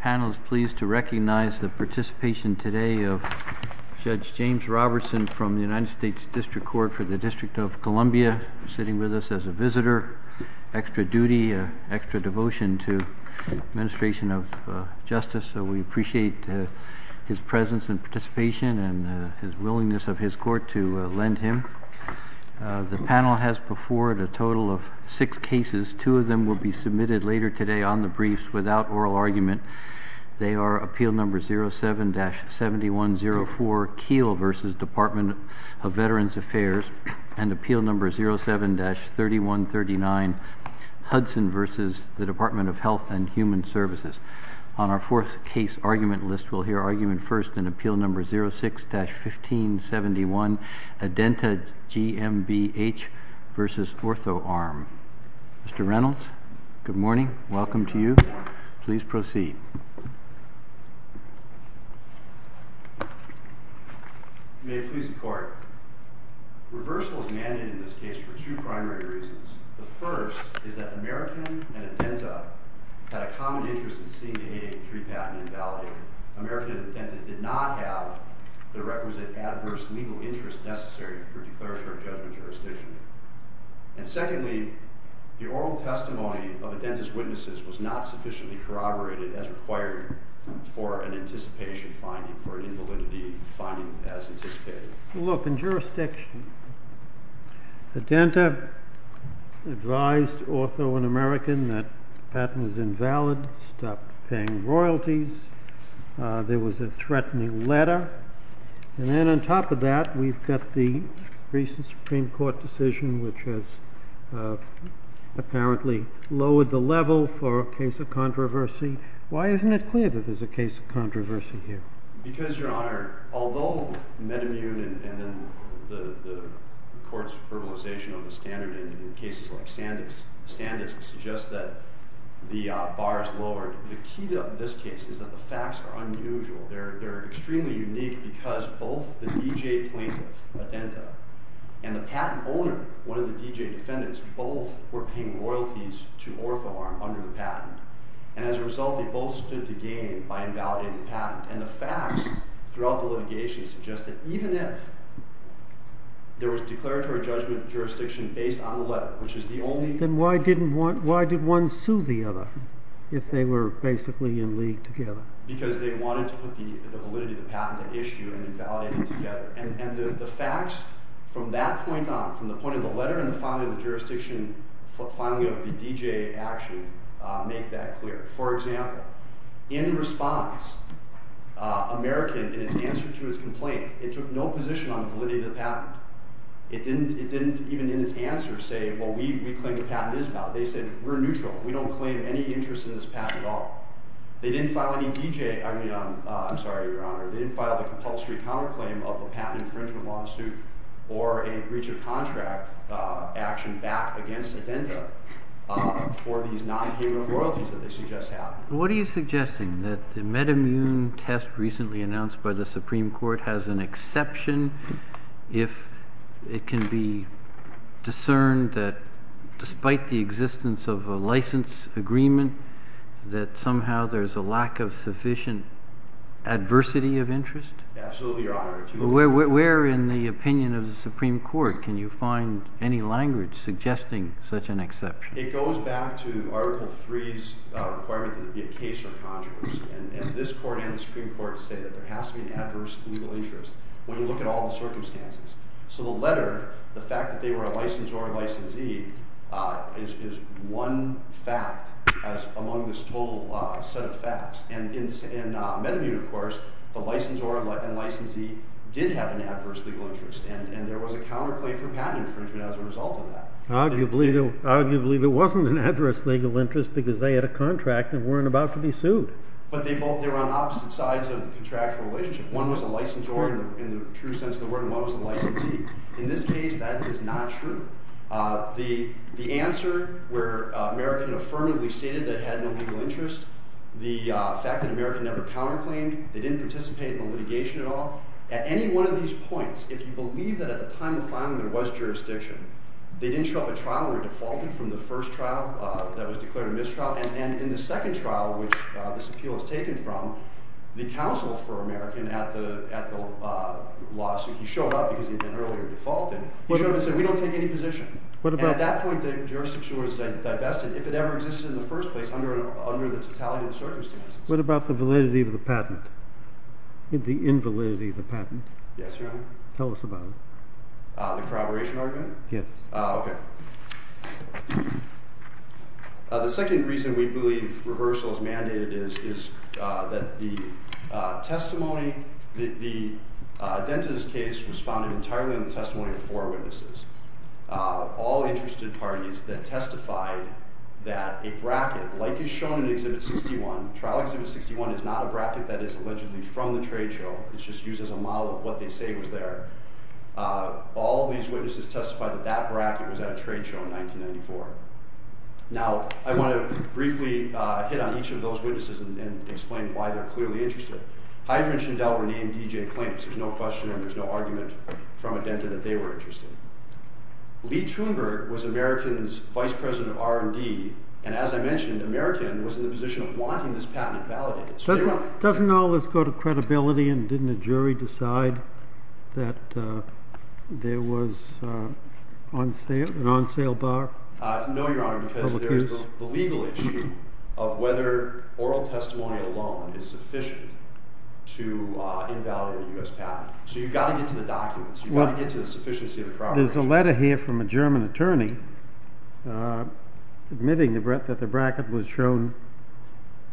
Panel is pleased to recognize the participation today of Judge James Robertson from the United States District Court for the District of Columbia, sitting with us as a visitor. Extra duty, extra devotion to administration of justice, so we appreciate his presence and participation and his willingness of his court to lend him. The panel has before it a total of six cases. Two of them will be submitted later today on the briefs without oral argument. They are Appeal No. 07-7104, Keele v. Department of Veterans Affairs, and Appeal No. 07-3139, Hudson v. Department of Health and Human Services. On our fourth case argument list, we'll hear argument first in Appeal No. 06-1571, Adenta GMBH v. Orthoarm. Mr. Reynolds, good morning. Welcome to you. Please proceed. May it please the Court. Reversal is mandated in this case for two primary reasons. The first is that American and Adenta had a common interest in seeing the 883 patent invalidated. American and Adenta did not have the requisite adverse legal interest necessary for declaratory judgment jurisdiction. And secondly, the oral testimony of Adenta's witnesses was not sufficiently corroborated as required for an anticipation finding, for an invalidity finding as anticipated. Look, in jurisdiction, Adenta advised Ortho and American that patent was invalid, stopped paying royalties, there was a threatening letter, and then on top of that we've got the recent Supreme Court decision which has apparently lowered the level for a case of controversy. Why isn't it clear that there's a case of controversy here? Because, Your Honor, although metamune and then the court's verbalization of the standard in cases like Sandus, Sandus suggests that the bar is lowered. The key to this case is that the facts are unusual. They're extremely unique because both the D.J. plaintiff, Adenta, and the patent owner, one of the D.J. defendants, both were paying royalties to Orthoarm under the patent. And as a result, they both stood to gain by invalidating the patent. And the facts throughout the litigation suggest that even if there was declaratory judgment jurisdiction based on the letter, which is the only- Then why did one sue the other if they were basically in league together? Because they wanted to put the validity of the patent at issue and invalidate it together. And the facts from that point on, from the point of the letter and the filing of the jurisdiction, filing of the D.J. action, make that clear. For example, in response, American, in its answer to its complaint, it took no position on the validity of the patent. It didn't even in its answer say, well, we claim the patent is valid. They said, we're neutral. We don't claim any interest in this patent at all. They didn't file any D.J. I mean, I'm sorry, Your Honor, they didn't file a compulsory counterclaim of a patent infringement lawsuit or a breach of contract action back against Adenda for these non-payment royalties that they suggest have. What are you suggesting? That the metamune test recently announced by the Supreme Court has an exception if it can be discerned that despite the existence of a license agreement, that somehow there's a lack of sufficient adversity of interest? Absolutely, Your Honor. Where in the opinion of the Supreme Court can you find any language suggesting such an exception? It goes back to Article III's requirement that it be a case or a contrivance. And this court and the Supreme Court say that there has to be an adverse legal interest when you look at all the among this total set of facts. And in metamune, of course, the licensor and licensee did have an adverse legal interest. And there was a counterclaim for patent infringement as a result of that. Arguably, there wasn't an adverse legal interest because they had a contract and weren't about to be sued. But they were on opposite sides of the contractual relationship. One was a licensor in the true sense of the word, and one was a licensee. In this case, that is not true. The answer where American affirmatively stated that it had no legal interest, the fact that American never counterclaimed, they didn't participate in the litigation at all. At any one of these points, if you believe that at the time of filing there was jurisdiction, they didn't show up at trial and were defaulted from the first trial that was declared a mistrial. And in the second trial, which this appeal was taken from, the counsel for American at the lawsuit, he showed up because he'd been earlier defaulted. He showed up and said, we don't take any position. And at that point, the jurisdiction was divested. If it ever existed in the first place under the totality of the circumstances. What about the validity of the patent? The invalidity of the patent? Yes, Your Honor. Tell us about it. The corroboration argument? Yes. Okay. The second reason we believe reversal is mandated is that the testimony, the Dentist's case was founded entirely on the testimony of four witnesses. All interested parties that testified that a bracket, like is shown in Exhibit 61, Trial Exhibit 61 is not a bracket that is allegedly from the trade show. It's just used as a model of what they say was there. All these witnesses testified that that bracket was at a trade show in 1994. Now, I want to briefly hit on each of those witnesses and explain why they're clearly interested. Hydra and Schindel were named D.J. claims. There's no question and there's no argument from a Dentist that they were interested. Lee Truenberg was American's Vice President of R&D, and as I mentioned, American was in the position of wanting this patent invalidated. Doesn't all this go to credibility and didn't a jury decide that there was an on-sale bar? No, Your Honor, because there's the legal issue of whether oral testimony alone is sufficient to There's a letter here from a German attorney admitting that the bracket was shown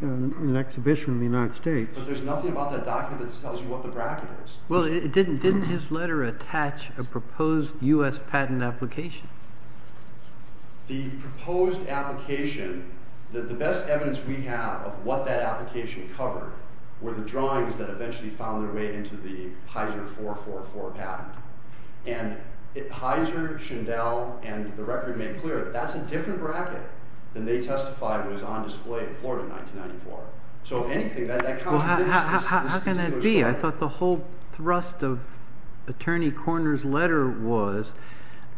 in an exhibition in the United States. But there's nothing about that document that tells you what the bracket is. Well, didn't his letter attach a proposed U.S. patent application? The proposed application, the best evidence we have of what that application covered were the Hydra, Schindel, and the record made clear that that's a different bracket than they testified was on display in Florida in 1994. So, if anything, that counts for this particular story. How can that be? I thought the whole thrust of Attorney Korner's letter was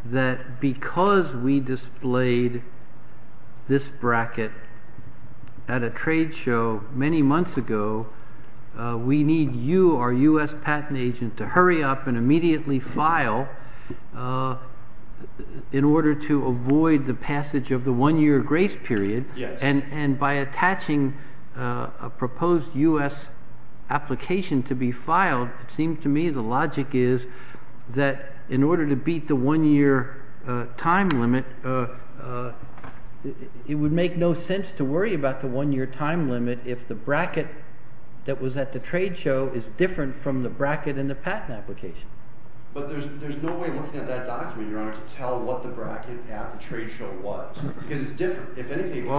that because we displayed this bracket at a trade show many months ago, we need you, our U.S. patent agent, to in order to avoid the passage of the one-year grace period. And by attaching a proposed U.S. application to be filed, it seems to me the logic is that in order to beat the one-year time limit, it would make no sense to worry about the one-year time limit if the bracket that was at the trade show is different from the bracket in the patent application. But there's no way looking at that document, Your Honor, to tell what the bracket at the trade show was. Because it's different. If anything, it's a story.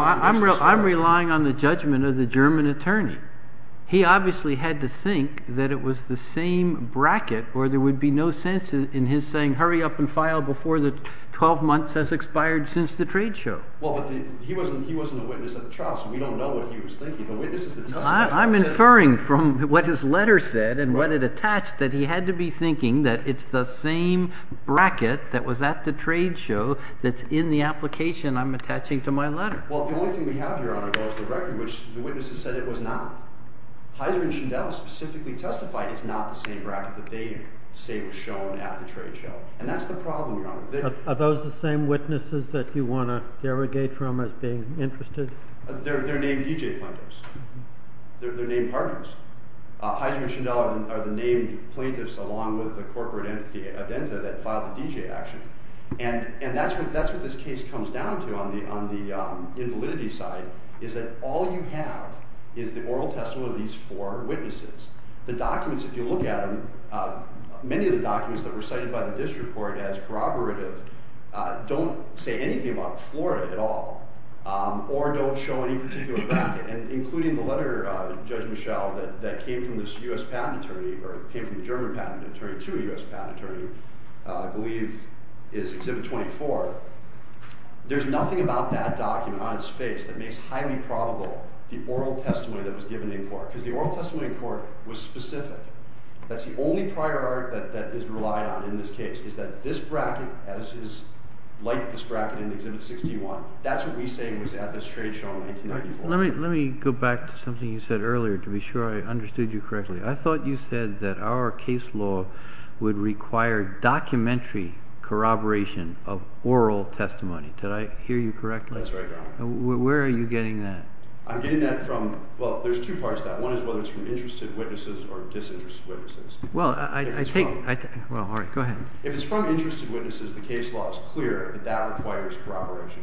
Well, I'm relying on the judgment of the German attorney. He obviously had to think that it was the same bracket or there would be no sense in his saying hurry up and file before the 12 months has expired since the trade show. Well, but he wasn't a witness at the trial, so we don't know what he was thinking. I'm inferring from what his letter said and what it attached that he had to be thinking that it's the same bracket that was at the trade show that's in the application I'm attaching to my letter. Well, the only thing we have, Your Honor, though, is the record, which the witnesses said it was not. Heiser and Schindel specifically testified it's not the same bracket that they say was shown at the trade show. And that's the problem, Your Honor. Are those the same witnesses that you want to derogate from as being interested? They're named DJ plaintiffs. They're named partners. Heiser and Schindel are the named plaintiffs along with the corporate entity, Adenta, that filed the DJ action. And that's what this case comes down to on the invalidity side, is that all you have is the oral testimony of these four witnesses. The documents, if you look at them, many of the documents that were cited by the district court as corroborative don't say anything about Florida at all or don't show any particular bracket, including the letter, Judge Michel, that came from this U.S. patent attorney, or came from the German patent attorney to a U.S. patent attorney, I believe is Exhibit 24. There's nothing about that document on its face that makes highly probable the oral testimony that was given in court. Because the oral testimony in court was specific. That's the only prior art that is relied on in this case, is that this bracket, as is like this bracket in Exhibit 61, that's what we say was at this trade show in 1994. Let me go back to something you said earlier to be sure I understood you correctly. I thought you said that our case law would require documentary corroboration of oral testimony. Did I hear you correctly? That's right, Your Honor. Where are you getting that? I'm getting that from, well, there's two parts to that. One is whether it's from interested witnesses or disinterested witnesses. If it's from interested witnesses, the case law is clear that that requires corroboration.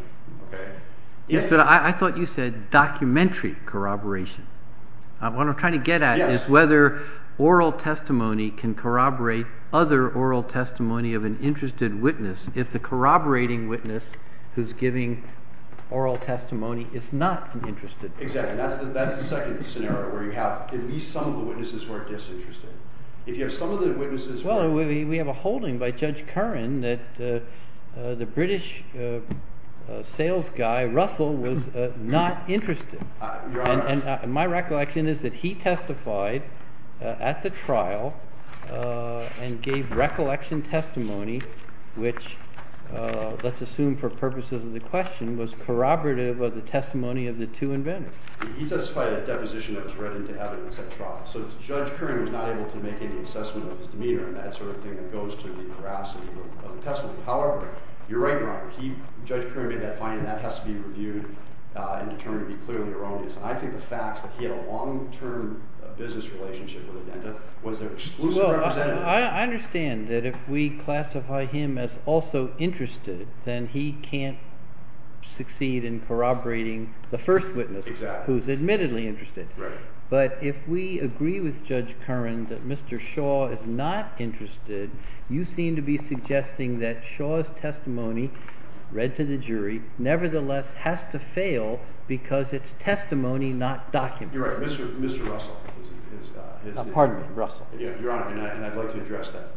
I thought you said documentary corroboration. What I'm trying to get at is whether oral testimony can corroborate other oral testimony of an interested witness if the corroborating witness who's giving oral testimony is not an interested witness. Exactly. That's the second scenario where you have at least some of the witnesses who are disinterested. If you have some of the witnesses who are— Well, we have a holding by Judge Curran that the British sales guy, Russell, was not interested. Your Honor— And my recollection is that he testified at the trial and gave recollection testimony, which, let's assume for purposes of the question, was corroborative of the testimony of the two inventors. He testified at a deposition that was read into evidence at trial, so Judge Curran was not able to make any assessment of his demeanor and that sort of thing that goes to the veracity of the testimony. However, you're right, Your Honor, Judge Curran made that finding. That has to be reviewed and determined to be clearly erroneous. I think the fact that he had a long-term business relationship with Indenta was an exclusive representative. I understand that if we classify him as also interested, then he can't succeed in corroborating the first witness who is admittedly interested. Right. But if we agree with Judge Curran that Mr. Shaw is not interested, you seem to be suggesting that Shaw's testimony, read to the jury, nevertheless has to fail because its testimony not documented. You're right. Mr. Russell is— Pardon me. Russell. Your Honor, and I'd like to address that.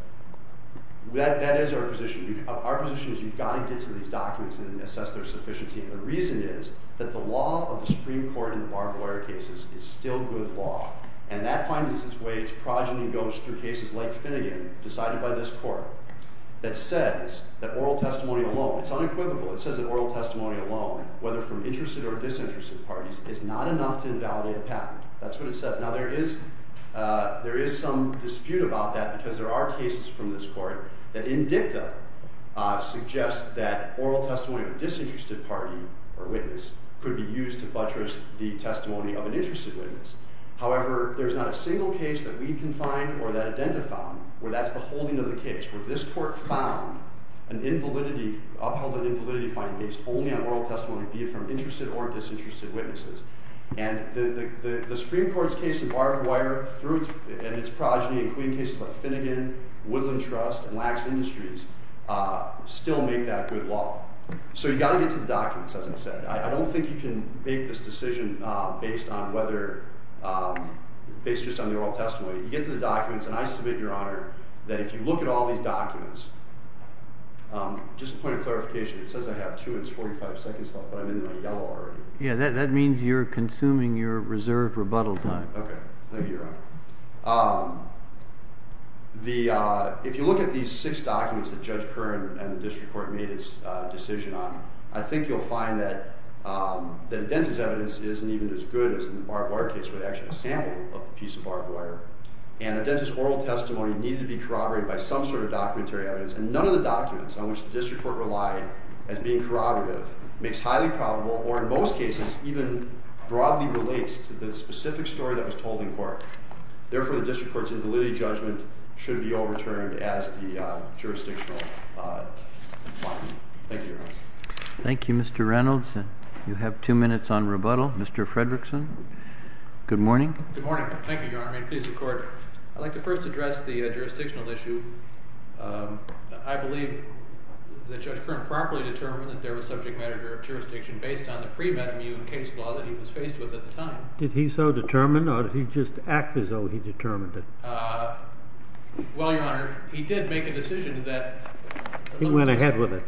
That is our position. Our position is you've got to get to these documents and assess their sufficiency, and the reason is that the law of the Supreme Court in barbed wire cases is still good law, and that finds its way, its progeny goes through cases like Finnegan, decided by this court, that says that oral testimony alone, it's unequivocal, it says that oral testimony alone, whether from interested or disinterested parties, is not enough to invalidate a patent. That's what it says. Now, there is some dispute about that because there are cases from this court that in dicta suggest that oral testimony of a disinterested party or witness could be used to buttress the testimony of an interested witness. However, there's not a single case that we can find or that IDENTA found where that's the holding of the case, where this court found an invalidity, upheld an invalidity finding based only on oral testimony, be it from interested or disinterested witnesses. And the Supreme Court's case in barbed wire and its progeny, including cases like Finnegan, Woodland Trust, and Lacks Industries, still make that good law. So you've got to get to the documents, as I said. I don't think you can make this decision based just on the oral testimony. You get to the documents, and I submit, Your Honor, that if you look at all these documents, just a point of clarification, it says I have two and it's 45 seconds left, but I'm in my yellow already. Yeah, that means you're consuming your reserved rebuttal time. Okay. Thank you, Your Honor. If you look at these six documents that Judge Kern and the district court made its decision on, I think you'll find that IDENTA's evidence isn't even as good as in the barbed wire case, where they actually have a sample of a piece of barbed wire. And IDENTA's oral testimony needed to be corroborated by some sort of documentary evidence, and none of the documents on which the district court relied as being corroborative makes highly probable, or in most cases, even broadly relates to the specific story that was told in court. Therefore, the district court's invalidity judgment should be overturned as the jurisdictional finding. Thank you, Your Honor. Thank you, Mr. Reynolds. You have two minutes on rebuttal. Mr. Fredrickson, good morning. Good morning. Thank you, Your Honor. May it please the Court. I'd like to first address the jurisdictional issue. I believe that Judge Kern properly determined that there was subject matter jurisdiction based on the pre-med immune case law that he was faced with at the time. Did he so determine, or did he just act as though he determined it? Well, Your Honor, he did make a decision that... He went ahead with it.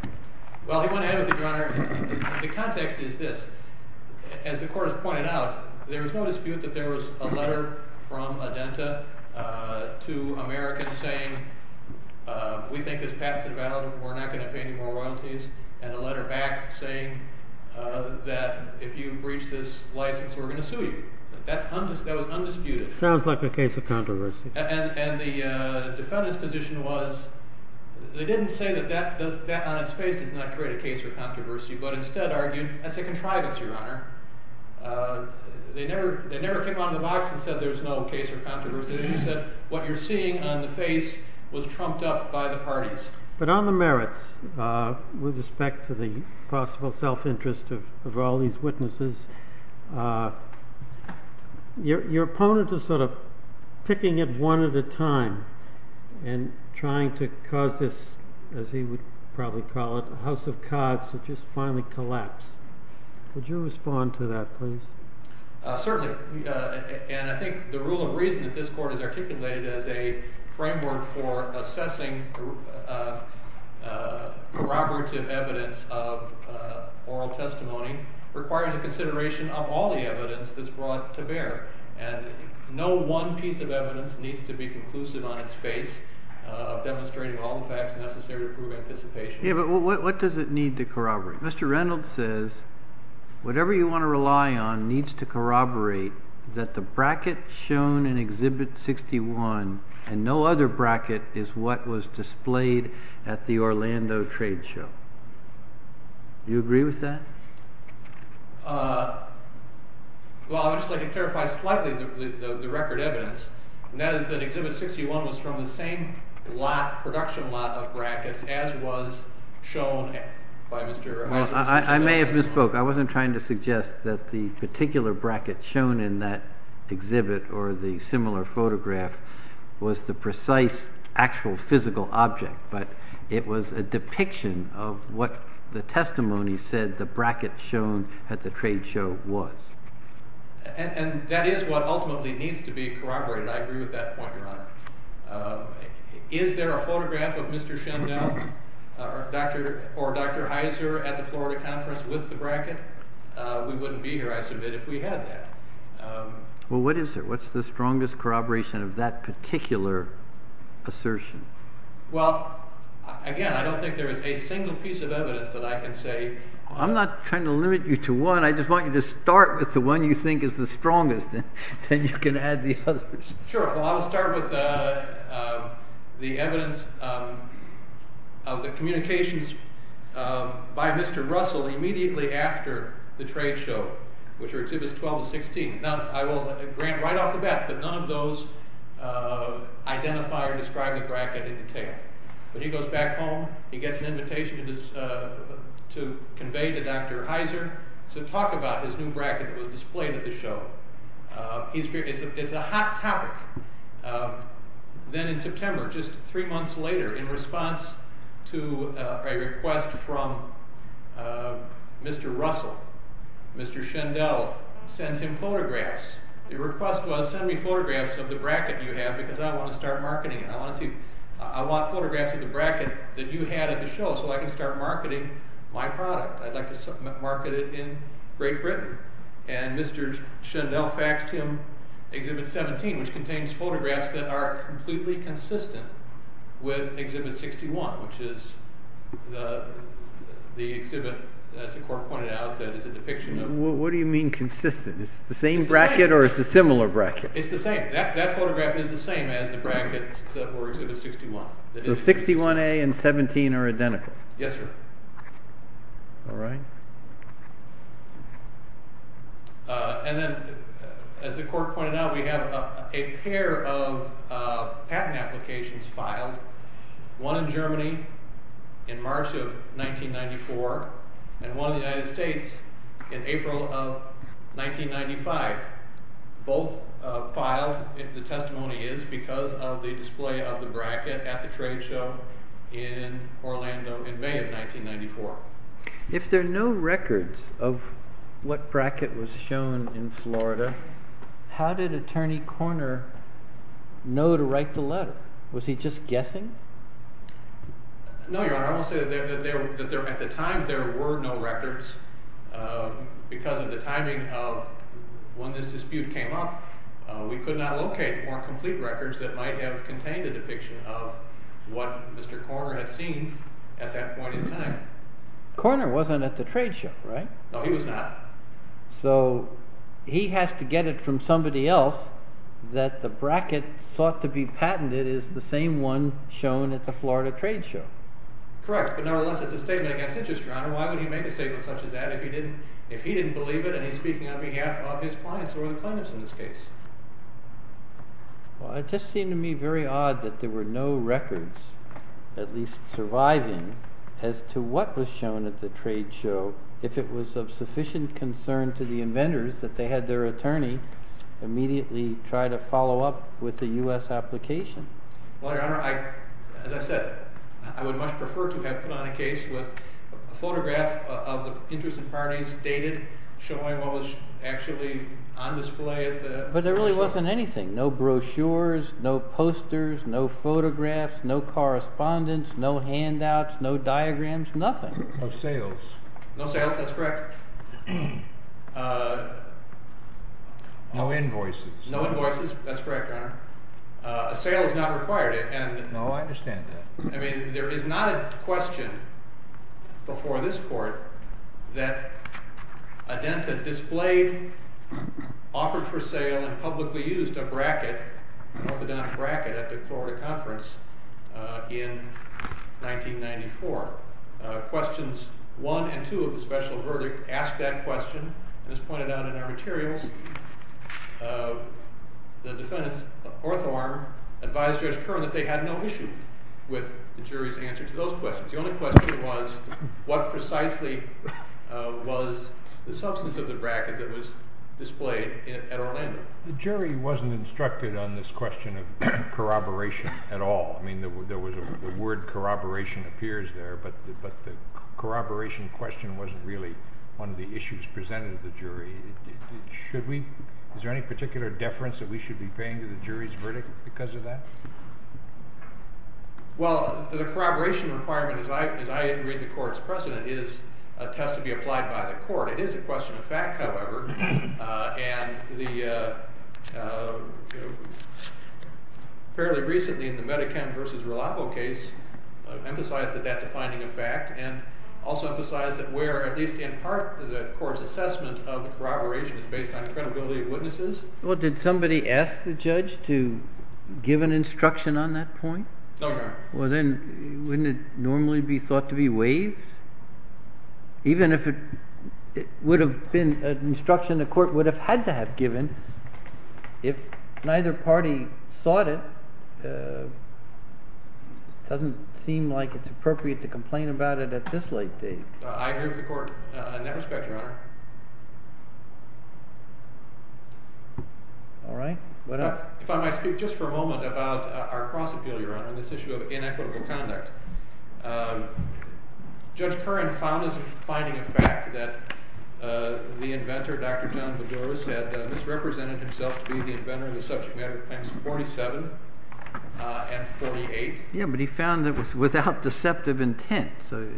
Well, he went ahead with it, Your Honor. The context is this. As the Court has pointed out, there is no dispute that there was a letter from IDENTA to Americans saying, we think this patent's invalid, we're not going to pay you any more royalties, and a letter back saying that if you breach this license, we're going to sue you. That was undisputed. Sounds like a case of controversy. And the defendant's position was, they didn't say that that on its face does not create a case of controversy, but instead argued, that's a contrivance, Your Honor. They never came out of the box and said there's no case of controversy. But on the merits, with respect to the possible self-interest of all these witnesses, your opponent is sort of picking it one at a time and trying to cause this, as he would probably call it, house of cards to just finally collapse. Would you respond to that, please? Certainly. And I think the rule of reason that this Court has articulated as a framework for assessing corroborative evidence of oral testimony requires a consideration of all the evidence that's brought to bear. And no one piece of evidence needs to be conclusive on its face of demonstrating all the facts necessary to prove anticipation. Yeah, but what does it need to corroborate? Mr. Reynolds says, whatever you want to rely on needs to corroborate that the bracket shown in Exhibit 61 and no other bracket is what was displayed at the Orlando trade show. Do you agree with that? Well, I would just like to clarify slightly the record evidence, and that is that Exhibit 61 was from the same production lot of brackets as was shown by Mr. Heiser. I may have misspoke. I wasn't trying to suggest that the particular bracket shown in that exhibit or the similar photograph was the precise actual physical object, but it was a depiction of what the testimony said the bracket shown at the trade show was. And that is what ultimately needs to be corroborated. I agree with that point, Your Honor. Is there a photograph of Mr. Shendell or Dr. Heiser at the Florida conference with the bracket? We wouldn't be here, I submit, if we had that. Well, what is there? What's the strongest corroboration of that particular assertion? Well, again, I don't think there is a single piece of evidence that I can say. I'm not trying to limit you to one. I just want you to start with the one you think is the strongest, then you can add the others. Sure. Well, I'll start with the evidence of the communications by Mr. Russell immediately after the trade show, which are Exhibits 12 and 16. Now, I will grant right off the bat that none of those identify or describe the bracket in detail. But he goes back home, he gets an invitation to convey to Dr. Heiser to talk about his new bracket that was displayed at the show. It's a hot topic. Then in September, just three months later, in response to a request from Mr. Russell, Mr. Shendell sends him photographs. The request was, send me photographs of the bracket you have because I want to start marketing it. I want photographs of the bracket that you had at the show so I can start marketing my product. I'd like to market it in Great Britain. Mr. Shendell faxed him Exhibit 17, which contains photographs that are completely consistent with Exhibit 61, which is the exhibit, as the court pointed out, that is a depiction of. What do you mean consistent? Is it the same bracket or is it a similar bracket? It's the same. That photograph is the same as the bracket for Exhibit 61. So 61A and 17 are identical? Yes, sir. All right. Then, as the court pointed out, we have a pair of patent applications filed, one in Germany in March of 1994 and one in the United States in April of 1995. Both filed, the testimony is, because of the display of the bracket at the trade show in Orlando in May of 1994. If there are no records of what bracket was shown in Florida, how did Attorney Korner know to write the letter? Was he just guessing? No, Your Honor, I won't say that at the time there were no records because of the timing of when this dispute came up. We could not locate more complete records that might have contained a depiction of what Mr. Korner had seen at that point in time. Korner wasn't at the trade show, right? No, he was not. So he has to get it from somebody else that the bracket thought to be patented is the same one shown at the Florida trade show. Correct, but nonetheless it's a statement against interest, Your Honor. Why would he make a statement such as that if he didn't believe it and he's speaking on behalf of his clients or the clients in this case? Well, it just seemed to me very odd that there were no records, at least surviving, as to what was shown at the trade show. If it was of sufficient concern to the inventors that they had their attorney immediately try to follow up with the U.S. application. Well, Your Honor, as I said, I would much prefer to have put on a case with a photograph of the interests and parties dated showing what was actually on display at the trade show. But there really wasn't anything. No brochures, no posters, no photographs, no correspondence, no handouts, no diagrams, nothing. No sales. No sales, that's correct. No invoices. No invoices, that's correct, Your Honor. A sale is not required. No, I understand that. I mean, there is not a question before this court that a dented displayed, offered for sale, and publicly used a bracket, an orthodontic bracket at the Florida conference in 1994. Questions one and two of the special verdict asked that question, as pointed out in our materials. The defendants, Orthoarm, advised Judge Curran that they had no issue with the jury's answer to those questions. The only question was, what precisely was the substance of the bracket that was displayed at Orlando? The jury wasn't instructed on this question of corroboration at all. I mean, the word corroboration appears there, but the corroboration question wasn't really one of the issues presented to the jury. Is there any particular deference that we should be paying to the jury's verdict because of that? Well, the corroboration requirement, as I read the court's precedent, is a test to be applied by the court. It is a question of fact, however. And fairly recently in the Medicham versus Relapo case, it emphasized that that's a finding of fact and also emphasized that where, at least in part, the court's assessment of the corroboration is based on credibility of witnesses. Well, did somebody ask the judge to give an instruction on that point? No, Your Honor. Well, then wouldn't it normally be thought to be waived? Even if it would have been an instruction the court would have had to have given, if neither party sought it, it doesn't seem like it's appropriate to complain about it at this late date. I agree with the court in that respect, Your Honor. All right. What else? If I might speak just for a moment about our cross-appeal, Your Honor, and this issue of inequitable conduct. Judge Curran found as a finding of fact that the inventor, Dr. John Bedoris, had misrepresented himself to be the inventor in the subject matter of Claims 47 and 48. Yeah, but he found it was without deceptive intent. So,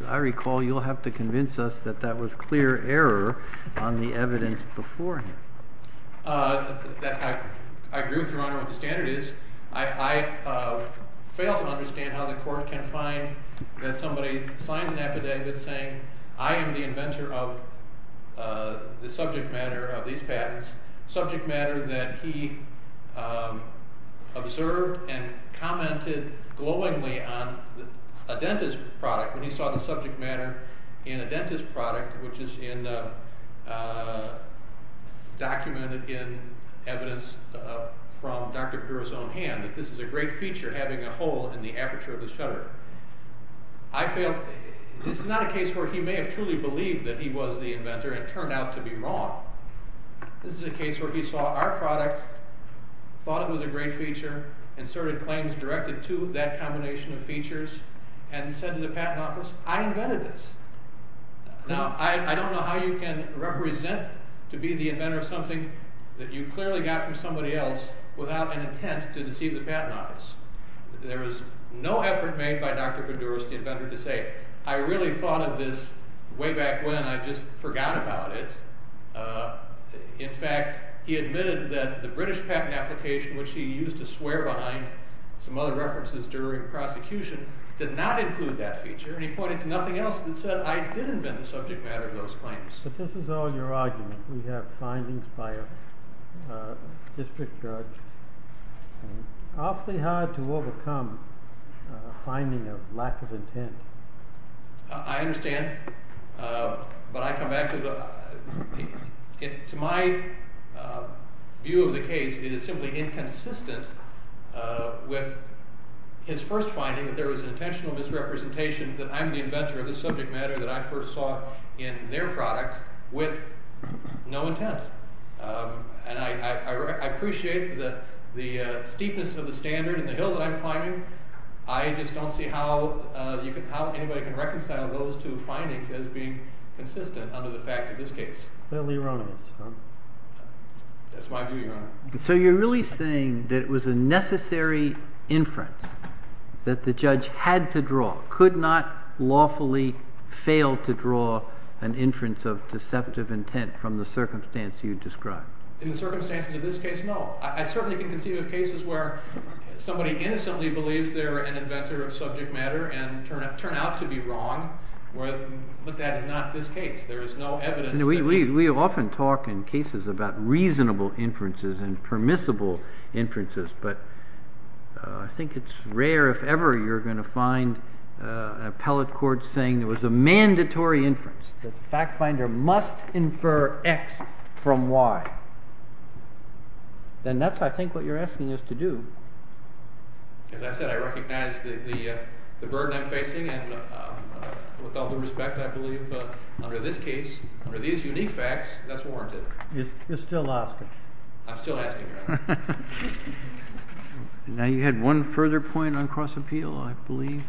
as I recall, you'll have to convince us that that was clear error on the evidence before him. I agree with you, Your Honor, on what the standard is. I fail to understand how the court can find that somebody signs an affidavit saying, I am the inventor of the subject matter of these patents, subject matter that he observed and commented glowingly on a dentist product, when he saw the subject matter in a dentist product, which is documented in evidence from Dr. Bedoris' own hand, that this is a great feature having a hole in the aperture of the shutter. I fail... This is not a case where he may have truly believed that he was the inventor and turned out to be wrong. This is a case where he saw our product, thought it was a great feature, inserted claims directed to that combination of features, and said to the Patent Office, I invented this. Now, I don't know how you can represent to be the inventor of something that you clearly got from somebody else without an intent to deceive the Patent Office. There is no effort made by Dr. Bedoris, the inventor, to say, I really thought of this way back when, I just forgot about it. In fact, he admitted that the British patent application, which he used to swear behind some other references during prosecution, did not include that feature, and he pointed to nothing else that said, I didn't invent the subject matter of those claims. But this is all your argument. We have findings by a district judge. It's awfully hard to overcome a finding of lack of intent. I understand, but I come back to the... To my view of the case, it is simply inconsistent with his first finding, that there was an intentional misrepresentation that I'm the inventor of this subject matter that I first saw in their product with no intent. And I appreciate the steepness of the standard in the hill that I'm climbing. I just don't see how anybody can reconcile those two findings as being consistent under the facts of this case. Fairly erroneous. That's my view, Your Honor. that the judge had to draw, could not lawfully fail to draw an inference of deceptive intent from the circumstance you described. In the circumstances of this case, no. I certainly can conceive of cases where somebody innocently believes they're an inventor of subject matter and turn out to be wrong, but that is not this case. There is no evidence... We often talk in cases about reasonable inferences and permissible inferences, but I think it's rare if ever you're going to find an appellate court saying there was a mandatory inference, that the fact finder must infer X from Y. Then that's, I think, what you're asking us to do. As I said, I recognize the burden I'm facing and with all due respect, I believe, under this case, under these unique facts, that's warranted. You're still asking. I'm still asking, Your Honor. Now, you had one further point on cross-appeal, I believe?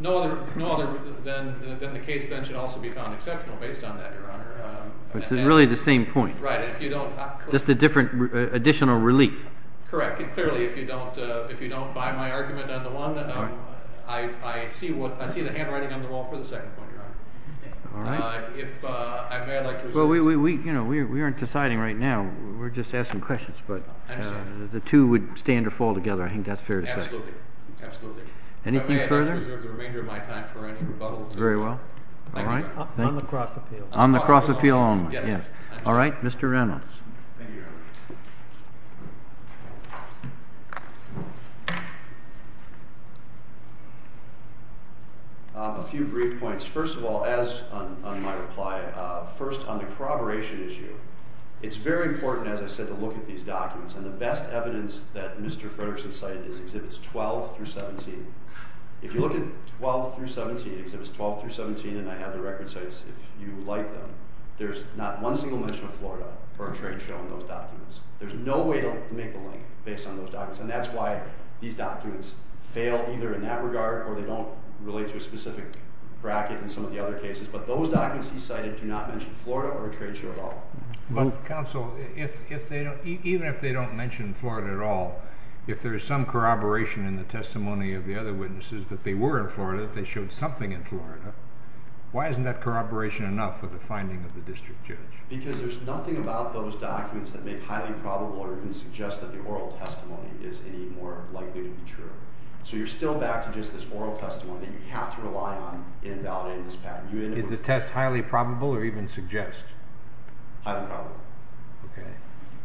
No other than the case that should also be found exceptional based on that, Your Honor. It's really the same point. Right. Just a different additional relief. Correct. Clearly, if you don't buy my argument on the one, I see the handwriting on the wall for the second point, Your Honor. All right. If I may, I'd like to... Well, we aren't deciding right now. We're just asking questions. I understand. But the two would stand or fall together. I think that's fair to say. Absolutely. Anything further? If I may, I'd like to reserve the remainder of my time for any rebuttal. Very well. Thank you. On the cross-appeal. On the cross-appeal only. Yes. All right. Mr. Reynolds. Thank you, Your Honor. A few brief points. First of all, as on my reply, first on the corroboration issue, it's very important, as I said, to look at these documents. And the best evidence that Mr. Fredericks has cited is Exhibits 12 through 17. If you look at 12 through 17, Exhibits 12 through 17, and I have the record sites if you like them, there's not one single mention of Florida or a trade show in those documents. There's no way to make the link based on those documents. And that's why these documents fail either in that regard or they don't relate to a specific bracket in some of the other cases. But those documents he cited do not mention Florida or a trade show at all. Counsel, even if they don't mention Florida at all, if there is some corroboration in the testimony of the other witnesses that they were in Florida, that they showed something in Florida, why isn't that corroboration enough for the finding of the district judge? Because there's nothing about those documents that make highly probable or even suggest that the oral testimony is any more likely to be true. So you're still back to just this oral testimony that you have to rely on in evaluating this pattern. Is the test highly probable or even suggest? Highly probable. Okay.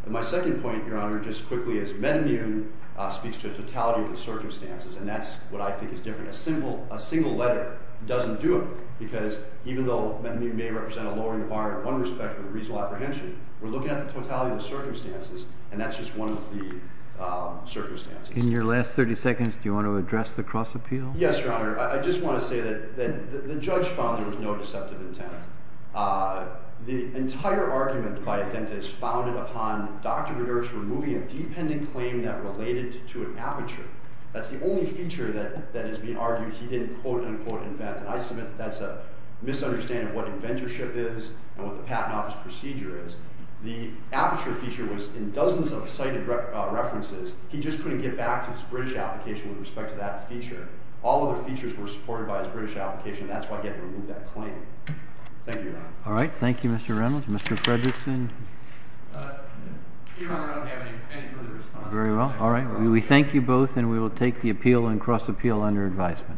My second point, Your Honor, just quickly, is metamune speaks to a totality of the circumstances, and that's what I think is different. A single letter doesn't do it because even though metamune may represent a lowering bar in one respect with a reasonable apprehension, we're looking at the totality of the circumstances, and that's just one of the circumstances. In your last 30 seconds, do you want to address the cross-appeal? Yes, Your Honor. Your Honor, I just want to say that the judge found there was no deceptive intent. The entire argument by Adventists founded upon Dr. Regers removing a dependent claim that related to an aperture. That's the only feature that is being argued he didn't quote-unquote invent, and I submit that that's a misunderstanding of what inventorship is and what the Patent Office procedure is. The aperture feature was in dozens of cited references. He just couldn't get back to his British application with respect to that feature. All other features were supported by his British application. That's why he had to remove that claim. Thank you, Your Honor. All right. Thank you, Mr. Reynolds. Mr. Fredrickson? Your Honor, I don't have any further response. Very well. All right. We thank you both, and we will take the appeal and cross-appeal under advisement. Thank you, Your Honor.